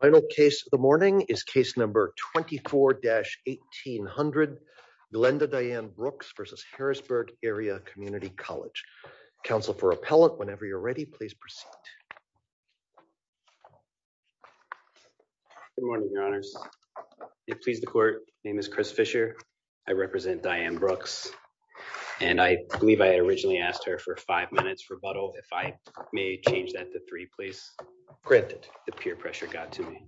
Final case of the morning is case number 24-1800 Glenda Diane Brooks versus Harrisburg Area Community College. Counsel for appellant, whenever you're ready, please proceed. Good morning, your honors. It pleases the court. My name is Chris Fisher. I represent Diane Brooks and I believe I originally asked her for five minutes rebuttal. If I may change that to three, granted the peer pressure got to me.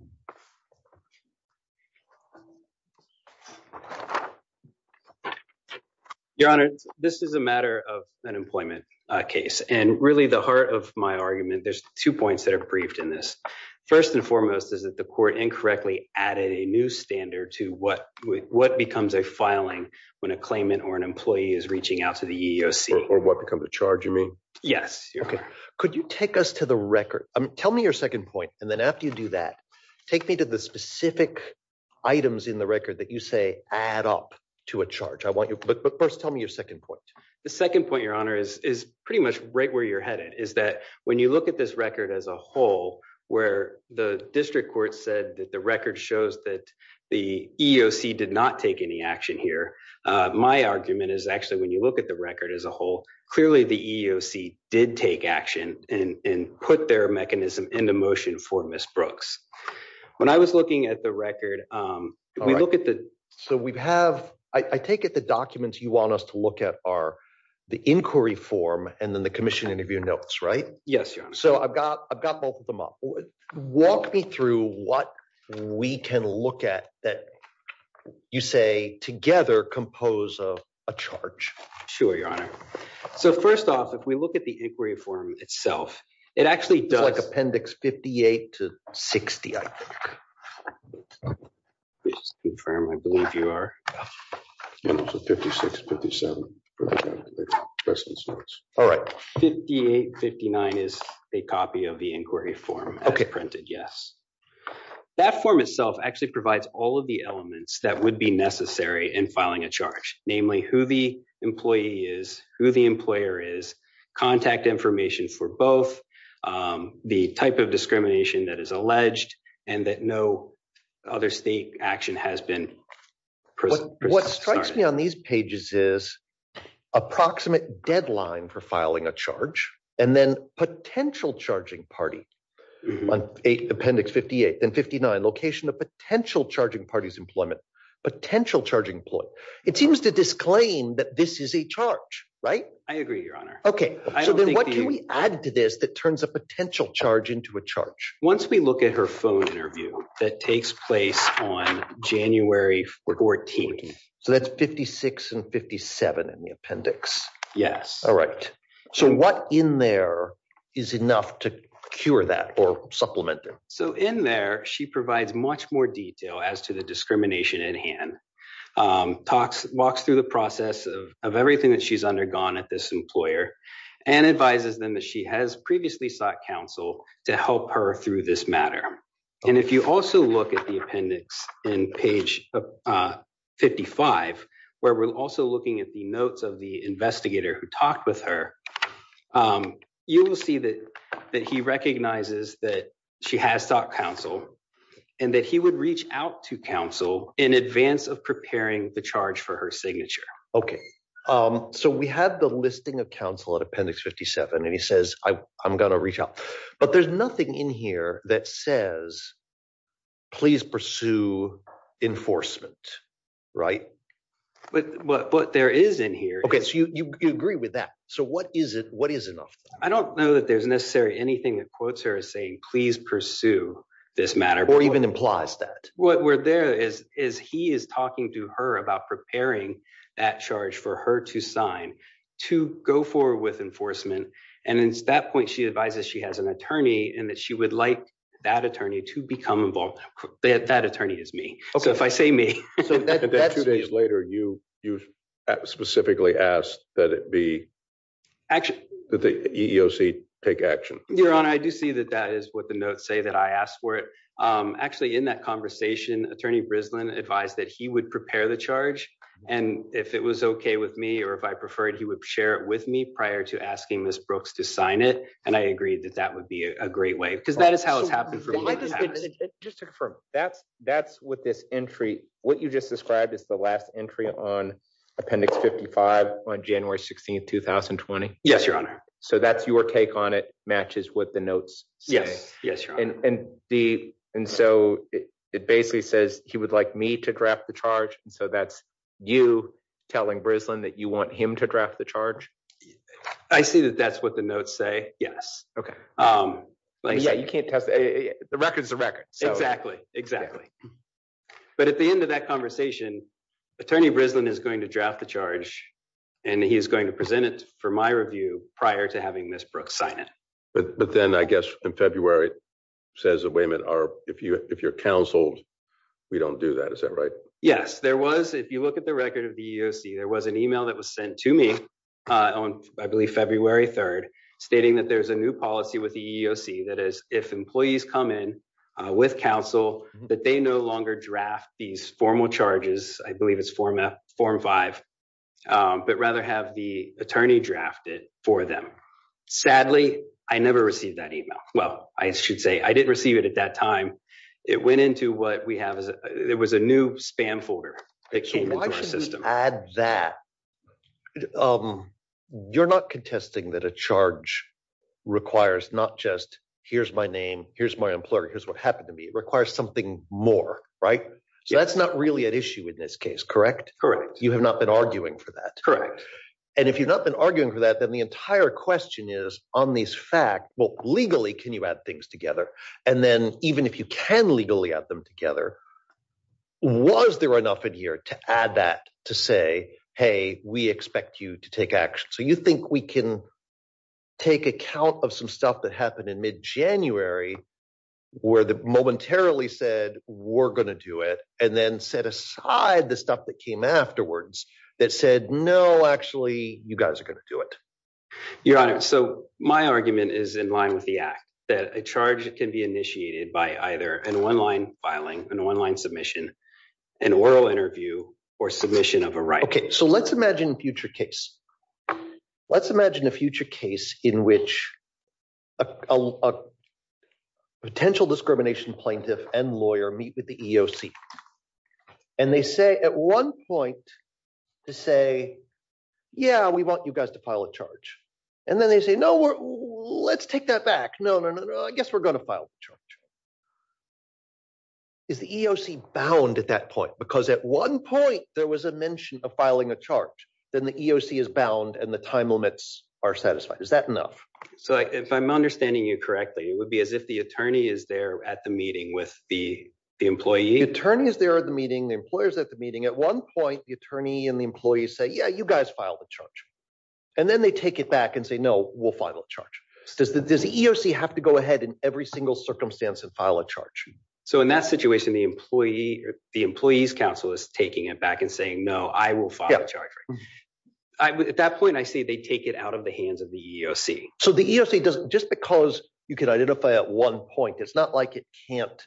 Your honor, this is a matter of an employment case and really the heart of my argument, there's two points that are briefed in this. First and foremost is that the court incorrectly added a new standard to what becomes a filing when a claimant or an employee is reaching out to the charge. Could you take us to the record? Tell me your second point and then after you do that, take me to the specific items in the record that you say add up to a charge. But first, tell me your second point. The second point, your honor, is pretty much right where you're headed, is that when you look at this record as a whole, where the district court said that the record shows that the EEOC did not take any action here, my argument is actually when you look at the as a whole, clearly the EEOC did take action and put their mechanism into motion for Ms. Brooks. When I was looking at the record, we look at the... So we have, I take it the documents you want us to look at are the inquiry form and then the commission interview notes, right? Yes, your honor. So I've got both of them up. Walk me through what we can look at that you say together compose of a charge. Sure, your honor. So first off, if we look at the inquiry form itself, it actually does... It's like appendix 58 to 60, I think. Please confirm, I believe you are. 56, 57. All right. 58, 59 is a copy of the inquiry form as printed, yes. That form itself actually provides all of the elements that would be necessary in filing a charge, namely who the employee is, who the employer is, contact information for both, the type of discrimination that is alleged and that no other state action has been... What strikes me on these pages is approximate deadline for filing a charge and then potential charging party. On appendix 58 and 59, location of potential charging party's employment, potential charging employee. It seems to disclaim that this is a charge, right? I agree, your honor. Okay. So then what can we add to this that turns a potential charge into a charge? Once we look at her phone interview that takes place on January 14th. So that's 56 and 57 in the appendix. Yes. All right. So what in there is enough to cure that or supplement it? So in there, she provides much more detail as to the discrimination in hand. Walks through the process of everything that she's undergone at this employer and advises them that she has previously sought counsel to help her through this matter. And if you also look at the appendix in page 55, where we're also looking at the notes of the investigator who talked with her, you will see that he recognizes that she has sought counsel and that he would reach out to counsel in advance of preparing the charge for her signature. Okay. So we have the listing of counsel at appendix 57 and he says, I'm going to reach out, but there's nothing in here that says, please pursue enforcement, right? But what there is in here. Okay. So you agree with that. So what is it? What is enough? I don't know that there's necessarily anything that quotes her as saying, please pursue this matter or even implies that what we're there is, is he is talking to her about preparing that charge for her to sign, to go forward with enforcement. And it's that point, she advises she has an attorney and that she would like that attorney to become involved. That attorney is me. So if I say me later, you, you specifically asked that it be action that the EEOC take action. Your honor. I do see that that is what the notes say that I asked for it. Actually in that conversation, attorney Brisbane advised that he would prepare the charge and if it was okay with me, or if I preferred, he would share it with me prior to asking Ms. Brooks to sign it. And I agreed that that would be a great way because that is how it's happened. Just to confirm, that's, that's what this entry, what you just described is the last entry on appendix 55 on January 16th, 2020. Yes, your honor. So that's your take on it matches with the notes. Yes. Yes. And the, and so it basically says he would like me to draft the charge. And so that's you telling Brisbane that you want him to draft the charge. I see that's what the notes say. Yes. Okay. Yeah. You can't test the records, the record. Exactly, exactly. But at the end of that conversation, attorney Brisbane is going to draft the charge and he's going to present it for my review prior to having Ms. Brooks sign it. But then I guess in February says the waymen are, if you, if you're counseled, we don't do that. Is that right? Yes. There was, if you look at the record of the EEOC, there was an email that was sent to me on, I believe February 3rd, stating that there's a new policy with the EEOC. That is if employees come in with counsel, that they no longer draft these formal charges. I believe it's format form five, but rather have the attorney drafted for them. Sadly, I never received that email. Well, I should say I didn't receive it at that time. It went into what we have is there was a new spam folder. Why should we add that? You're not contesting that a charge requires, not just here's my name, here's my employer, here's what happened to me. It requires something more, right? So that's not really at issue in this case, correct? Correct. You have not been arguing for that. Correct. And if you've not been arguing for that, then the entire question is on these facts, well, legally, can you add things together? And then even if you can legally add together, was there enough in here to add that to say, hey, we expect you to take action. So you think we can take account of some stuff that happened in mid-January where the momentarily said, we're going to do it and then set aside the stuff that came afterwards that said, no, actually you guys are going to do it. Your honor. So my argument is in line with the act that a charge can be initiated by either an online filing, an online submission, an oral interview, or submission of a right. Okay. So let's imagine a future case. Let's imagine a future case in which a potential discrimination plaintiff and lawyer meet with the EEOC. And they say at one point to say, yeah, we want you guys to file a charge. And then they say, no, let's take that back. No, no, no, no. I guess we're going to file the charge. Is the EEOC bound at that point? Because at one point there was a mention of filing a charge, then the EEOC is bound and the time limits are satisfied. Is that enough? So if I'm understanding you correctly, it would be as if the attorney is there at the meeting with the employee. The attorney is there at the meeting, the employer's at the meeting. At one point, the attorney and the employee say, yeah, you guys file the charge. And then they take it back and say, no, we'll file a charge. Does the EEOC have to go ahead in every single circumstance and file a charge? So in that situation, the employee's counsel is taking it back and saying, no, I will file a charge. At that point, I see they take it out of the hands of the EEOC. So the EEOC does, just because you can identify at one point, it's not like it can't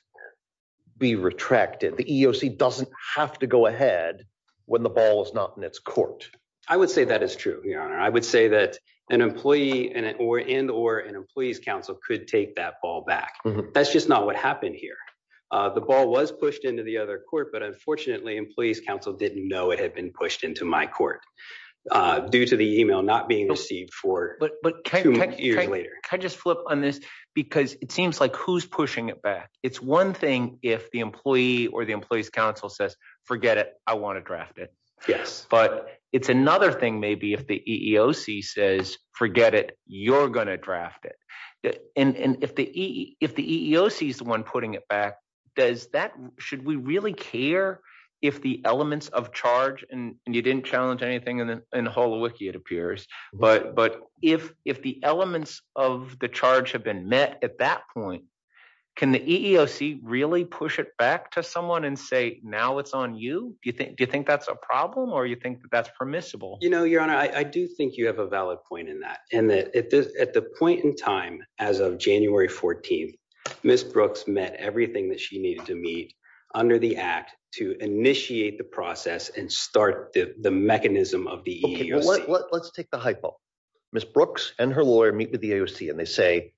be retracted. The EEOC doesn't have to go ahead when the ball is not in its court. I would say that is true, Your Honor. I would say that an employee and or an employee's counsel could take that ball back. That's just not what happened here. The ball was pushed into the other court, but unfortunately, employee's counsel didn't know it had been pushed into my court due to the email not being received for two years later. Can I just flip on this? Because it seems like who's pushing it back. It's one thing if the employee or the employee's counsel says, forget it, I want to draft it. But it's another thing maybe if the EEOC says, forget it, you're going to draft it. And if the EEOC is the one putting it back, should we really care if the elements of charge, and you didn't challenge anything in the whole wiki, it appears. But if the elements of the charge have been met at that point, can the EEOC really push it back to someone and say, now it's on you? Do you think that's a problem or do you think that's permissible? You know, Your Honor, I do think you have a valid point in that. At the point in time, as of January 14th, Ms. Brooks met everything that she needed to meet under the act to initiate the process and start the mechanism of the EEOC. Let's take the hypo. Ms. Brooks and her lawyer meet with the EEOC and they say,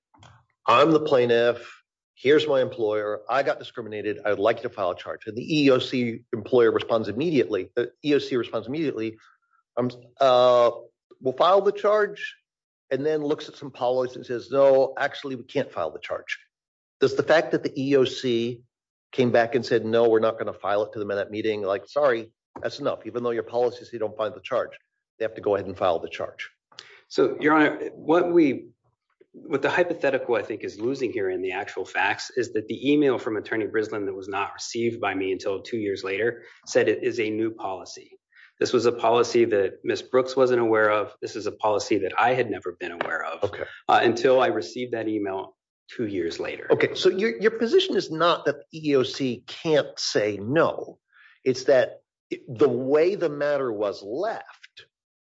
I'm the plaintiff. Here's my employer. I got discriminated. I'd like to file a charge. And the EEOC employer responds immediately. The EEOC responds immediately. We'll file the charge. And then looks at some policies and says, no, actually, we can't file the charge. Does the fact that the EEOC came back and said, no, we're not going to file it to them in that meeting. Like, sorry, that's enough. Even though your policy is you don't find the charge, they have to go ahead and file the charge. So, Your Honor, what we, what the hypothetical I think is losing here in the actual facts is that the email from Attorney Brislin that was not received by me until two years later said it is a new policy. This was a policy that Ms. Brooks wasn't aware of. This is a policy that I had never been aware of until I received that email two years later. Okay. So your position is not that EEOC can't say no. It's that the way the matter was left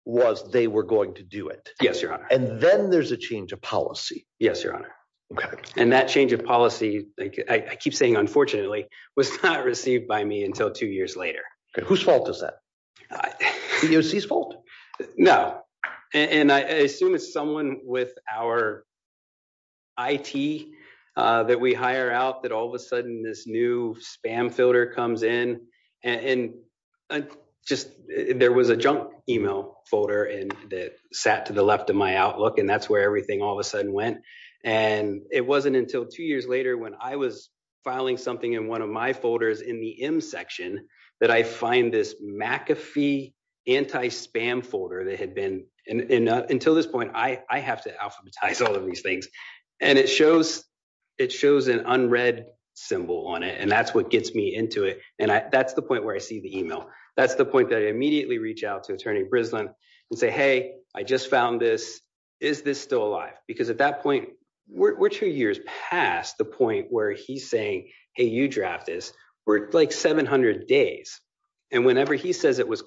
was they were going to do it. Yes, Your Honor. And then there's a change of policy. Yes, Your Honor. Okay. And that change of policy, I keep saying, unfortunately, was not received by me until two years later. Whose fault is that? EEOC's fault? No. And I assume it's someone with our IT that we hire out that all of a sudden this new spam filter comes in and just there was a junk email folder and that sat to the left of my Outlook. And that's where everything all of a sudden went. And it wasn't until two years later when I was filing something in one of my folders in the M section that I find this McAfee anti-spam folder that had been, and until this point, I have to alphabetize all of these things. And it shows an unread symbol on it. And that's what gets me into it. And that's the point where I see the email. That's the point that I immediately reach out to Attorney Brislin and say, hey, I just found this. Is this still alive? Because at that point, we're two years past the point where he's saying, hey, you draft this. We're like 700 days. And whenever he says it was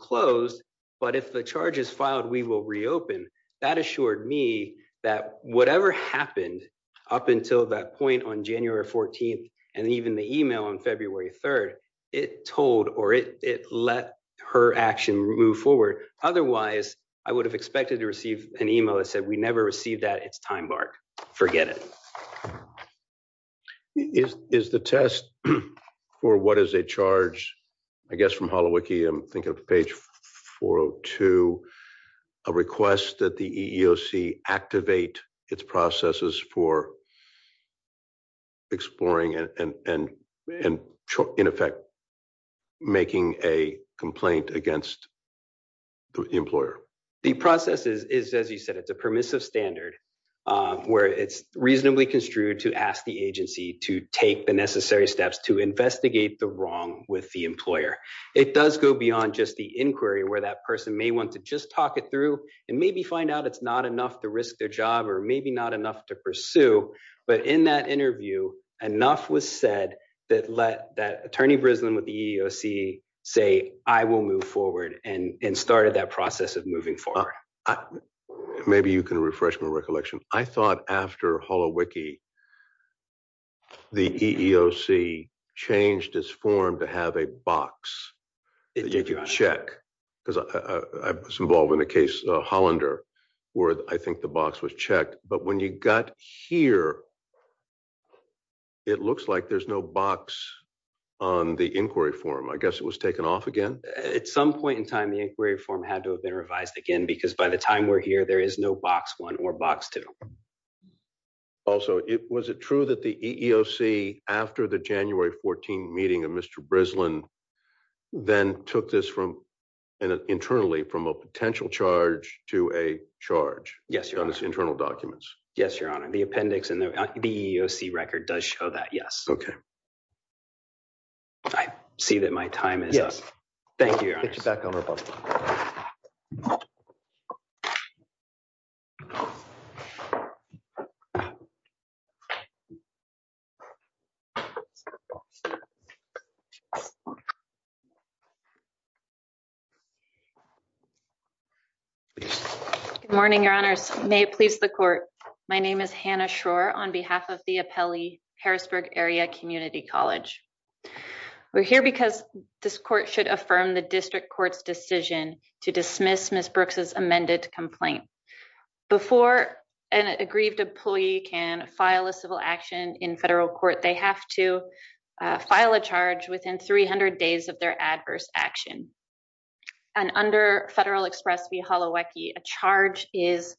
but if the charge is filed, we will reopen. That assured me that whatever happened up until that point on January 14th, and even the email on February 3rd, it told or it let her action move forward. Otherwise, I would have expected to receive an email that said we never received that. It's time bark. Forget it. Is the test for what is a charge? I guess from I'm thinking of page 402, a request that the EEOC activate its processes for exploring and in effect, making a complaint against the employer. The process is, as you said, it's a permissive standard where it's reasonably construed to ask the agency to take the necessary steps to investigate the wrong with the employer. It does go beyond just the inquiry where that person may want to just talk it through and maybe find out it's not enough to risk their job or maybe not enough to pursue. But in that interview, enough was said that let that Attorney Brislin with the EEOC say, I will move forward and started that process of moving forward. Maybe you can refresh my recollection. I thought after HoloWiki, the EEOC changed its form to have a box that you can check because I was involved in a case, Hollander, where I think the box was checked. But when you got here, it looks like there's no box on the inquiry form. I guess it was taken off again. At some point in time, the inquiry form had to have been revised again, because by the time we're here, there is no box one or box two. Also, was it true that the EEOC after the January 14 meeting of Mr. Brislin then took this from an internally from a potential charge to a charge? Yes, your internal documents. Yes, your honor. The appendix and the EEOC record does show that. Yes. Okay. I see that my time is up. Thank you. Good morning, your honors. May it please the court. My name is Hannah Schroer on behalf of Harrisburg Area Community College. We're here because this court should affirm the district court's decision to dismiss Ms. Brooks's amended complaint. Before an aggrieved employee can file a civil action in federal court, they have to file a charge within 300 days of their adverse action. And under Federal Express v. Holowicki, a charge is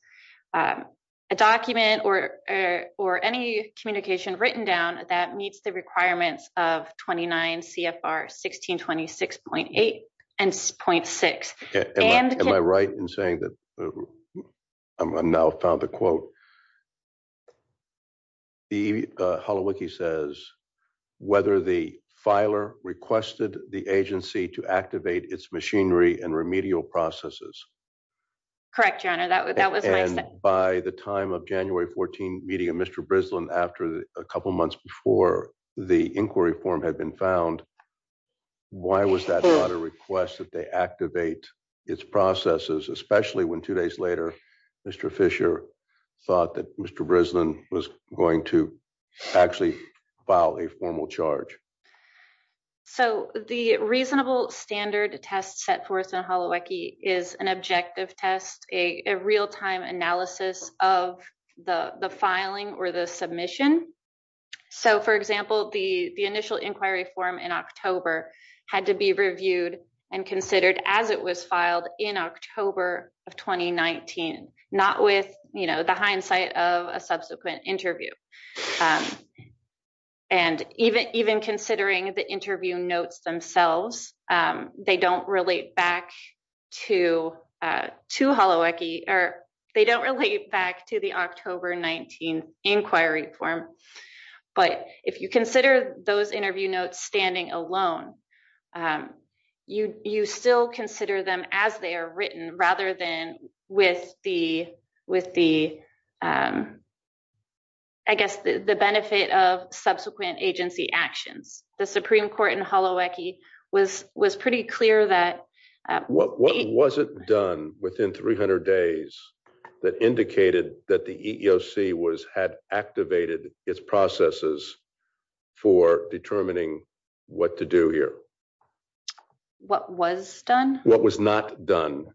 a document or any communication written down that meets the requirements of 29 CFR 1626.8 and 0.6. Am I right in saying that I've now found the EEOC? The Holowicki says whether the filer requested the agency to activate its machinery and remedial processes. Correct, your honor. That was by the time of January 14 meeting of Mr. Brislin after a couple months before the inquiry form had been found. Why was that not a request that they had to activate its processes, especially when two days later, Mr. Fisher thought that Mr. Brislin was going to actually file a formal charge? So the reasonable standard test set forth in Holowicki is an objective test, a real-time analysis of the filing or the submission. So for example, the initial inquiry form in October had to be reviewed and considered as it was filed in October of 2019, not with the hindsight of a subsequent interview. And even considering the interview notes themselves, they don't relate back to Holowicki, or they don't relate back to the October 19 inquiry form. But if you consider those interview notes standing alone, you still consider them as they are written rather than with the, I guess, the benefit of subsequent agency actions. The Supreme Court in Holowicki was pretty clear that. What was it done within 300 days that indicated that the EEOC had activated its processes for determining what to do here? What was done? What was not done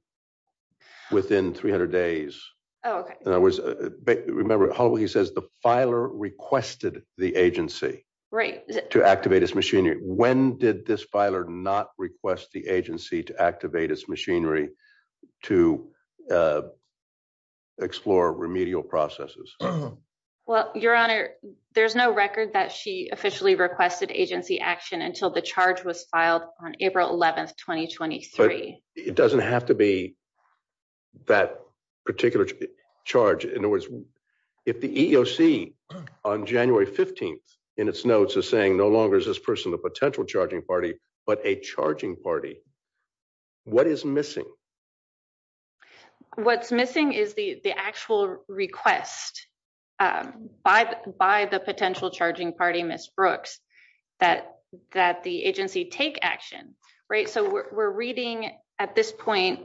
within 300 days? Remember, Holowicki says the filer requested the agency to activate its machinery. When did this not request the agency to activate its machinery to explore remedial processes? Well, Your Honor, there's no record that she officially requested agency action until the charge was filed on April 11th, 2023. But it doesn't have to be that particular charge. In other words, if the EEOC on January 15th in its notes is saying no longer is this the potential charging party, but a charging party, what is missing? What's missing is the actual request by the potential charging party, Ms. Brooks, that the agency take action. We're reading at this point,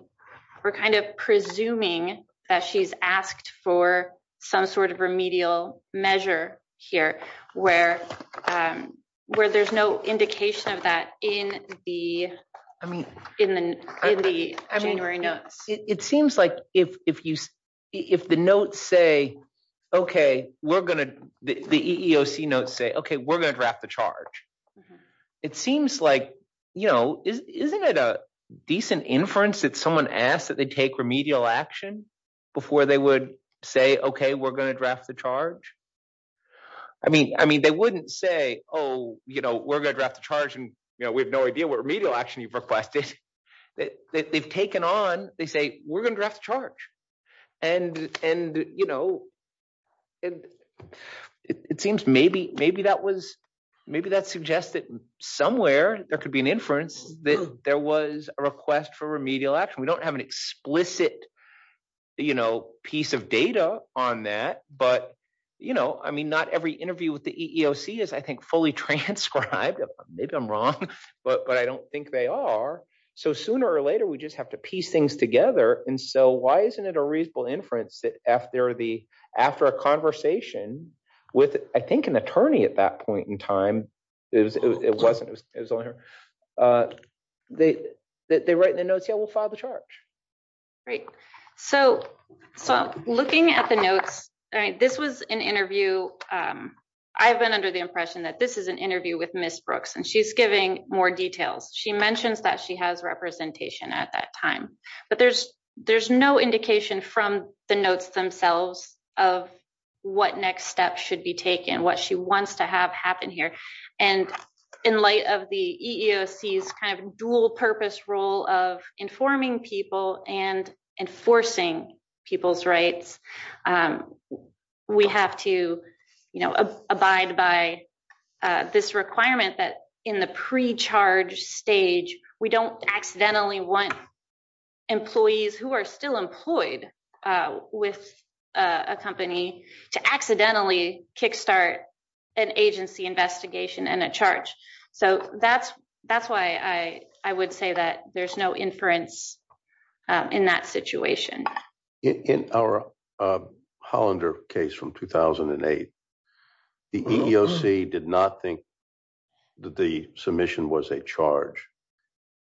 we're kind of presuming that she's asked for some sort of remedial measure here where there's no indication of that in the January notes. It seems like if the notes say, okay, we're going to, the EEOC notes say, okay, we're going to draft the charge. It seems like, you know, isn't it a decent inference that someone asked that they take remedial action before they would say, okay, we're going to draft the charge? I mean, they wouldn't say, oh, you know, we're going to draft the charge and we have no idea what remedial action you've requested. They've taken on, they say, we're going to draft the charge. And, you know, it seems maybe that was, maybe that suggests that somewhere there could be an inference that there was a request for remedial action. We don't have an explicit, you know, piece of data on that, but, you know, I mean, not every interview with the EEOC is, I think, fully transcribed. Maybe I'm wrong, but I don't think they are. So sooner or later, we just have to piece things together. And so why isn't it a reasonable inference that after the, after a conversation with, I think, an attorney at that point in time, it wasn't, it was only her, they write in the notes, yeah, we'll file the charge. Great. So looking at the notes, this was an interview. I've been under the impression that this is an interview with Ms. Brooks and she's giving more details. She mentions that she has representation at that time, but there's no indication from the notes themselves of what next steps should be taken, what she wants to have happen here. And in light of the EEOC's kind of dual purpose role of informing people and enforcing people's rights, we have to, you know, abide by this requirement that in the pre-charge stage, we don't accidentally want employees who are still employed with a company to accidentally kickstart an agency investigation and a charge. So that's why I would say that there's no inference in that situation. In our Hollander case from 2008, the EEOC did not think that the submission was a charge.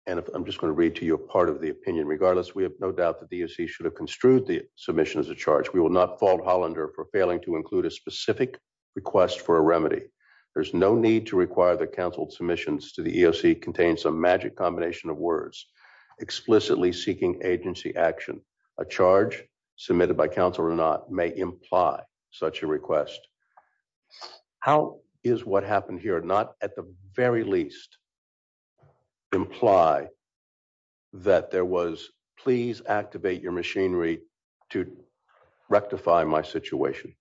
And I'm just going to read to you a part of the opinion. Regardless, we have no doubt that the EEOC should have construed the submission as a charge. We will not fault Hollander for failing to include a specific request for a remedy. There's no need to require that counsel submissions to the EEOC contain some magic combination of words, explicitly seeking agency action. A charge submitted by counsel or not may imply such a request. How is what happened here not at the very least imply that there was, please activate your machinery to rectify my situation?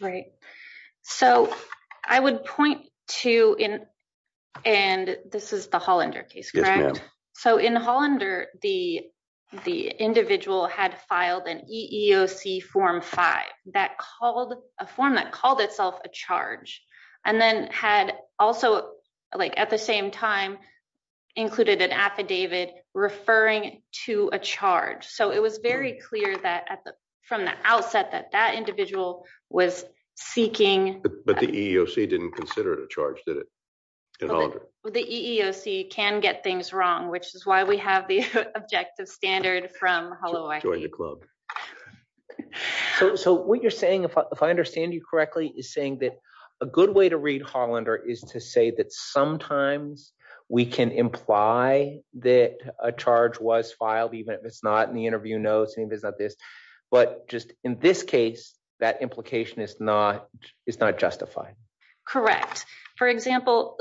Right. So I would point to, and this is the Hollander case, correct? Yes, ma'am. So in Hollander, the individual had filed an EEOC Form 5, a form that called itself a charge, and then had also like at the same time included an affidavit referring to a charge. So it was very clear that from the outset that that individual was seeking. But the EEOC didn't consider it a charge, did it? The EEOC can get things wrong, which is why we have the objective standard from Holloway. So what you're saying, if I understand you correctly, is saying that a good way to read Hollander is to say that sometimes we can imply that a charge was filed, if it's not in the interview notes, if it's not this. But just in this case, that implication is not justified. Correct. For example,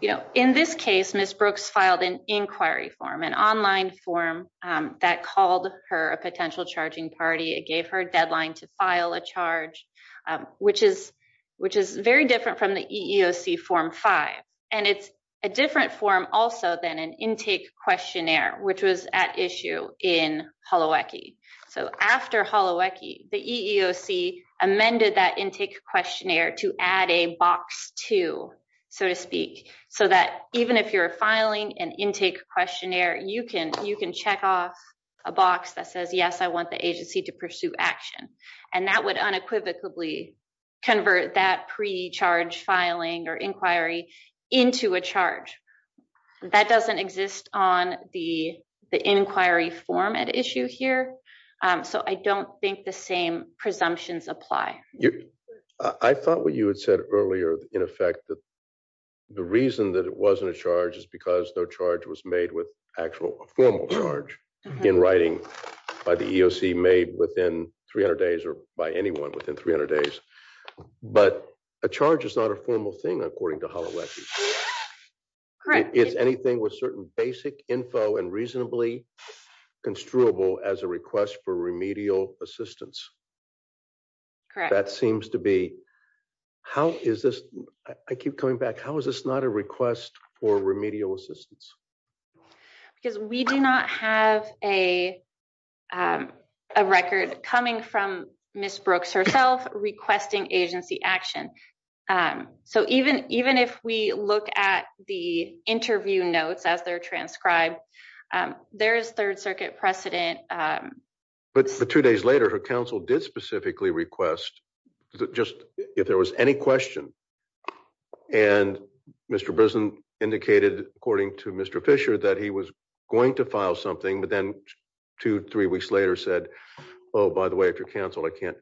in this case, Ms. Brooks filed an inquiry form, an online form that called her a potential charging party. It gave her a deadline to file a charge, which is very different from the EEOC Form 5. And it's a different form also than an intake questionnaire, which was at issue in Holowecki. So after Holowecki, the EEOC amended that intake questionnaire to add a box to, so to speak, so that even if you're filing an intake questionnaire, you can check off a box that says, yes, I want the agency to pursue action. And that would unequivocally convert that pre-charge filing or inquiry into a charge. That doesn't exist on the inquiry form at issue here. So I don't think the same presumptions apply. I thought what you had said earlier, in effect, that the reason that it wasn't a charge is because no charge was made with actual formal charge in writing by the EEOC made within 300 days or by anyone within 300 days. But a charge is not a formal thing, according to Holowecki. Correct. Is anything with certain basic info and reasonably construable as a request for remedial assistance? Correct. That seems to be, how is this, I keep coming back, how is this not a remedial assistance? Because we do not have a record coming from Ms. Brooks herself requesting agency action. So even if we look at the interview notes as they're transcribed, there is third circuit precedent. But two days later, her counsel did specifically request, just if there was any question, and Mr. Brisson indicated, according to Mr. Fisher, that he was going to file something, but then two, three weeks later said, oh, by the way, if you're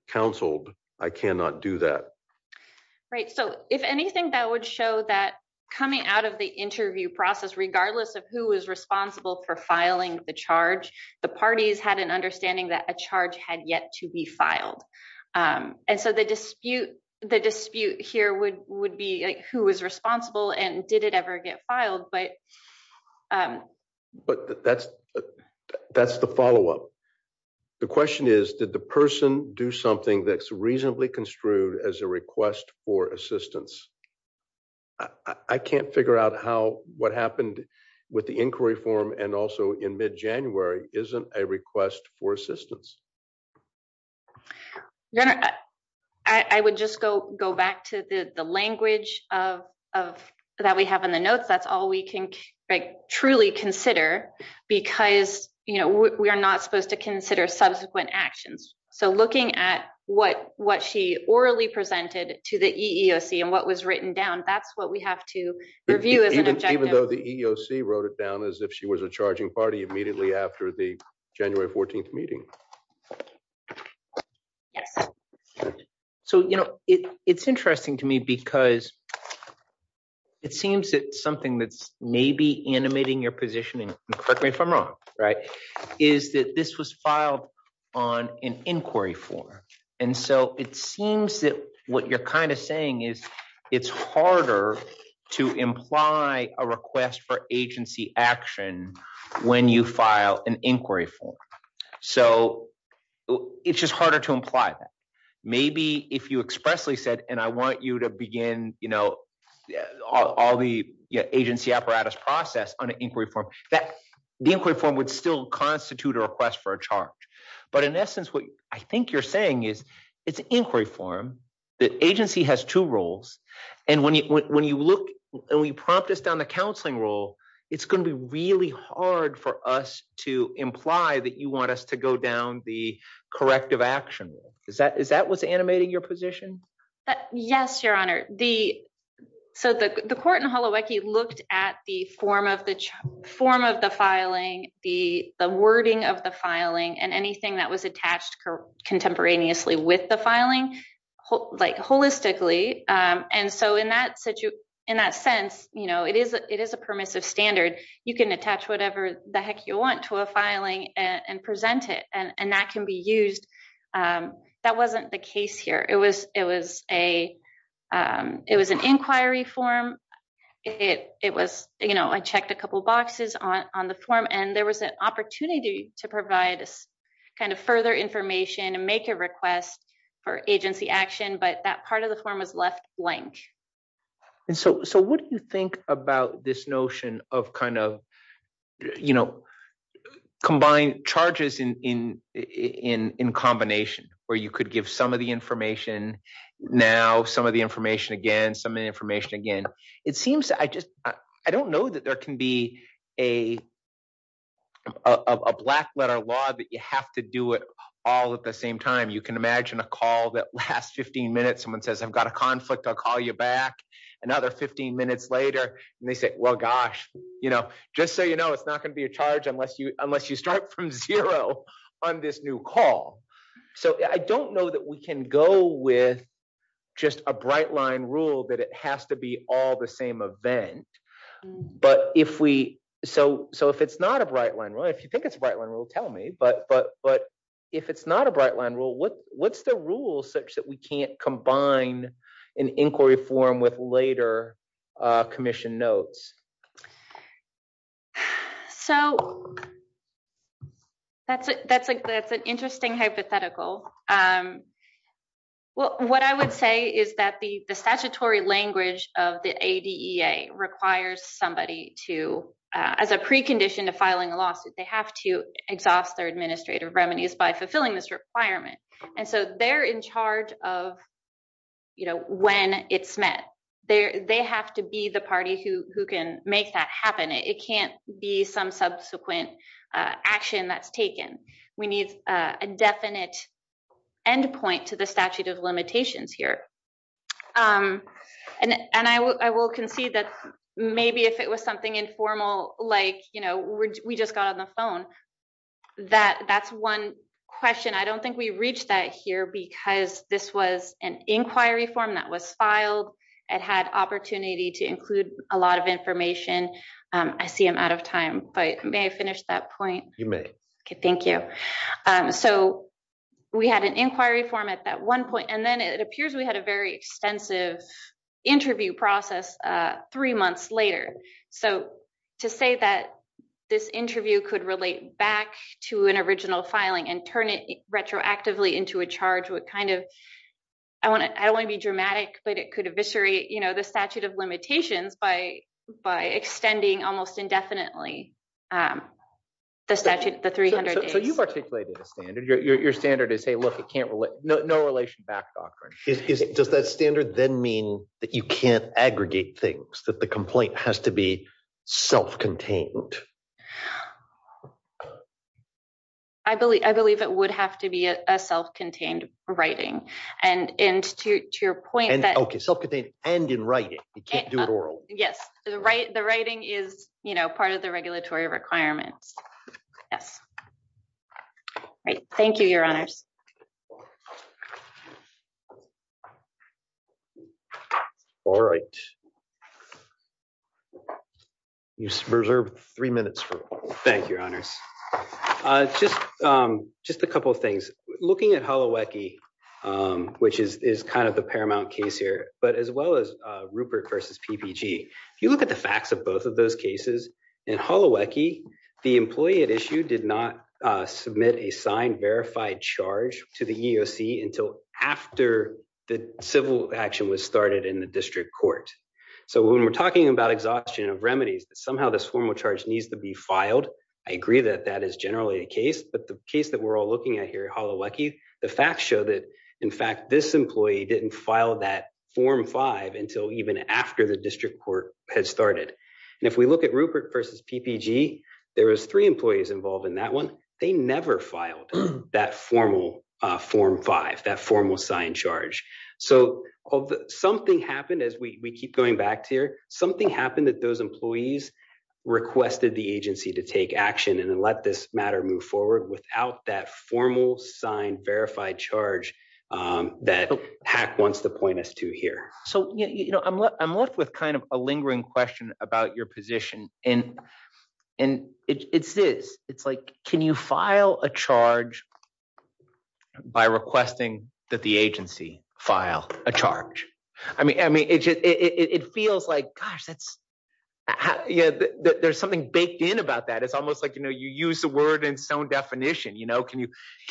counseled, I cannot do that. Right. So if anything, that would show that coming out of the interview process, regardless of who is responsible for filing the charge, the parties had an understanding that a charge had yet to be filed. And so the dispute here would be who was responsible and did it ever get filed. But that's the follow-up. The question is, did the person do something that's reasonably construed as a request for assistance? I can't figure out how, what happened with the inquiry form and also in mid-January isn't a request for assistance. I would just go back to the language that we have in the notes. That's all we can truly consider because we are not supposed to consider subsequent actions. So looking at what she orally presented to the EEOC and what was written down, that's what we have to review as even though the EEOC wrote it down as if she was a charging party immediately after the January 14th meeting. Yes. So, you know, it's interesting to me because it seems that something that's maybe animating your positioning, correct me if I'm wrong, right, is that this was filed on an inquiry form. And so it seems that what you're kind of saying is it's harder to imply a request for agency action when you file an inquiry form. So it's just harder to imply that. Maybe if you expressly said, and I want you to begin, you know, all the agency apparatus process on an inquiry form, the inquiry form would still constitute a request for a charge. But in essence, what I think you're saying is it's an inquiry form, the agency has two roles. And when you look and we prompt us down the counseling role, it's going to be really hard for us to imply that you want us to go down the corrective action. Is that what's animating your position? Yes, Your Honor. So the court in Holowecki looked at the form of the filing, the wording of the filing and anything that was contemporaneously with the filing, like holistically. And so in that sense, you know, it is a permissive standard. You can attach whatever the heck you want to a filing and present it and that can be used. That wasn't the case here. It was an inquiry form. I checked a to provide kind of further information and make a request for agency action, but that part of the form was left blank. And so what do you think about this notion of kind of, you know, combined charges in combination where you could give some of the information now, some of the information again, some of the information again. It seems to, I just, I don't know that there can be a black letter law that you have to do it all at the same time. You can imagine a call that lasts 15 minutes. Someone says, I've got a conflict. I'll call you back another 15 minutes later. And they say, well, gosh, you know, just so you know, it's not going to be a charge unless you, unless you start from zero on this new call. So I don't know that we can go with just a bright line rule that it has to be all the same event. But if we, so, so if it's not a bright line, right, if you think it's a bright line rule, tell me, but, but, but if it's not a bright line rule, what, what's the rule such that we can't combine an inquiry form with later commission notes? So that's it. That's like, that's an hypothetical. Well, what I would say is that the, the statutory language of the ADEA requires somebody to as a precondition to filing a lawsuit, they have to exhaust their administrative remedies by fulfilling this requirement. And so they're in charge of, you know, when it's met there, they have to be the party who can make that happen. It can't be some subsequent action that's taken. We need a definite endpoint to the statute of limitations here. And, and I will, I will concede that maybe if it was something informal, like, you know, we just got on the phone that that's one question. I don't think we reached that here because this was an inquiry form that was filed. It had opportunity to include a lot of information. I see I'm out of time, but may I finish that point? You may. Okay. Thank you. So we had an inquiry form at that one point, and then it appears we had a very extensive interview process three months later. So to say that this interview could relate back to an original filing and turn it retroactively into a charge would kind of, I want to, I don't want to be dramatic, but it could eviscerate, the statute of limitations by extending almost indefinitely the statute, the 300 days. So you've articulated a standard. Your standard is, hey, look, it can't relate, no relation back doctrine. Does that standard then mean that you can't aggregate things, that the complaint has to be self-contained? I believe it would have to be a self-contained writing. And to your point that- In writing, you can't do it oral. Yes. The writing is, you know, part of the regulatory requirements. Yes. Great. Thank you, your honors. All right. You reserve three minutes for- Thank you, your honors. Just a couple of things. Looking at Holowecki, which is kind of the paramount case here, but as well as Rupert versus PPG, if you look at the facts of both of those cases, in Holowecki, the employee at issue did not submit a signed verified charge to the EEOC until after the civil action was started in the district court. So when we're talking about exhaustion of remedies, somehow this formal charge needs to be filed. I agree that that is generally the case, but the case that we're all looking at here at Holowecki, the facts show that in fact, this employee didn't file that form five until even after the district court had started. And if we look at Rupert versus PPG, there was three employees involved in that one. They never filed that formal form five, that formal signed charge. So something happened as we keep going back to here, something happened that those employees requested the agency to take action and then let this matter move forward without that formal signed verified charge that PAC wants to point us to here. So I'm left with kind of a lingering question about your position and it's this, it's like, can you file a charge by requesting that agency file a charge? I mean, it feels like, gosh, there's something baked in about that. It's almost like, you use the word in its own definition. Can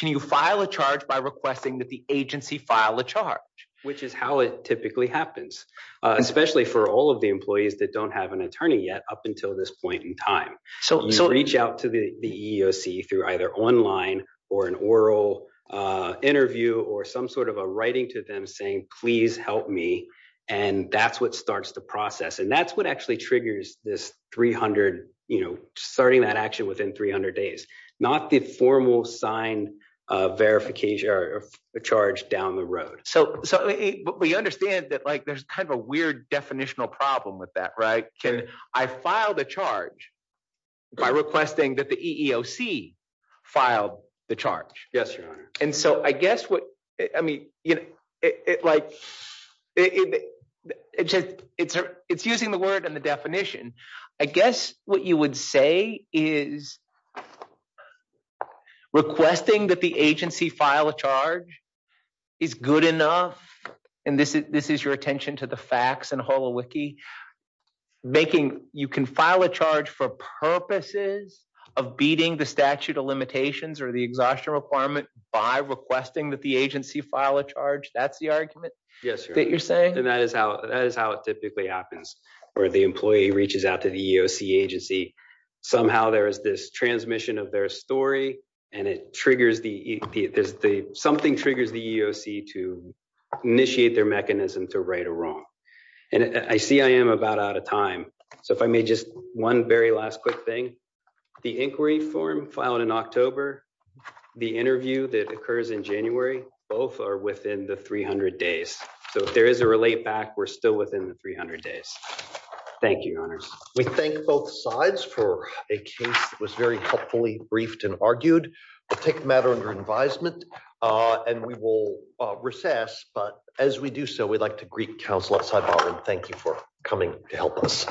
you file a charge by requesting that the agency file a charge? Which is how it typically happens, especially for all of the employees that don't have an attorney yet up until this point in time. So you reach out to the EEOC through either online or an oral interview or some sort of a writing to them saying, please help me. And that's what starts the process. And that's what actually triggers this 300, you know, starting that action within 300 days, not the formal signed verification or charge down the road. So, but we understand that like, there's kind of a weird definitional problem with that, right? Can I file the charge by requesting that the EEOC filed the charge? Yes, Your Honor. And so I guess what, I mean, you know, it like, it's just, it's, it's using the word and the definition. I guess what you would say is requesting that the agency file a charge is good enough. And this is, this is your attention to the facts and HoloWiki. Making, you can file a charge for purposes of beating the statute of limitations or the exhaustion requirement by requesting that the agency file a charge. That's the argument? Yes, Your Honor. That you're saying? And that is how, that is how it typically happens where the employee reaches out to the EEOC agency. Somehow there is this transmission of their story and it triggers the, there's the, triggers the EEOC to initiate their mechanism to right or wrong. And I see I am about out of time. So if I may just, one very last quick thing, the inquiry form filed in October, the interview that occurs in January, both are within the 300 days. So if there is a relate back, we're still within the 300 days. Thank you, Your Honors. We thank both sides for a case that was very helpfully briefed and argued. We'll take the matter under advisement and we will recess. But as we do so, we'd like to greet counsel outside bar and thank you for coming to help us.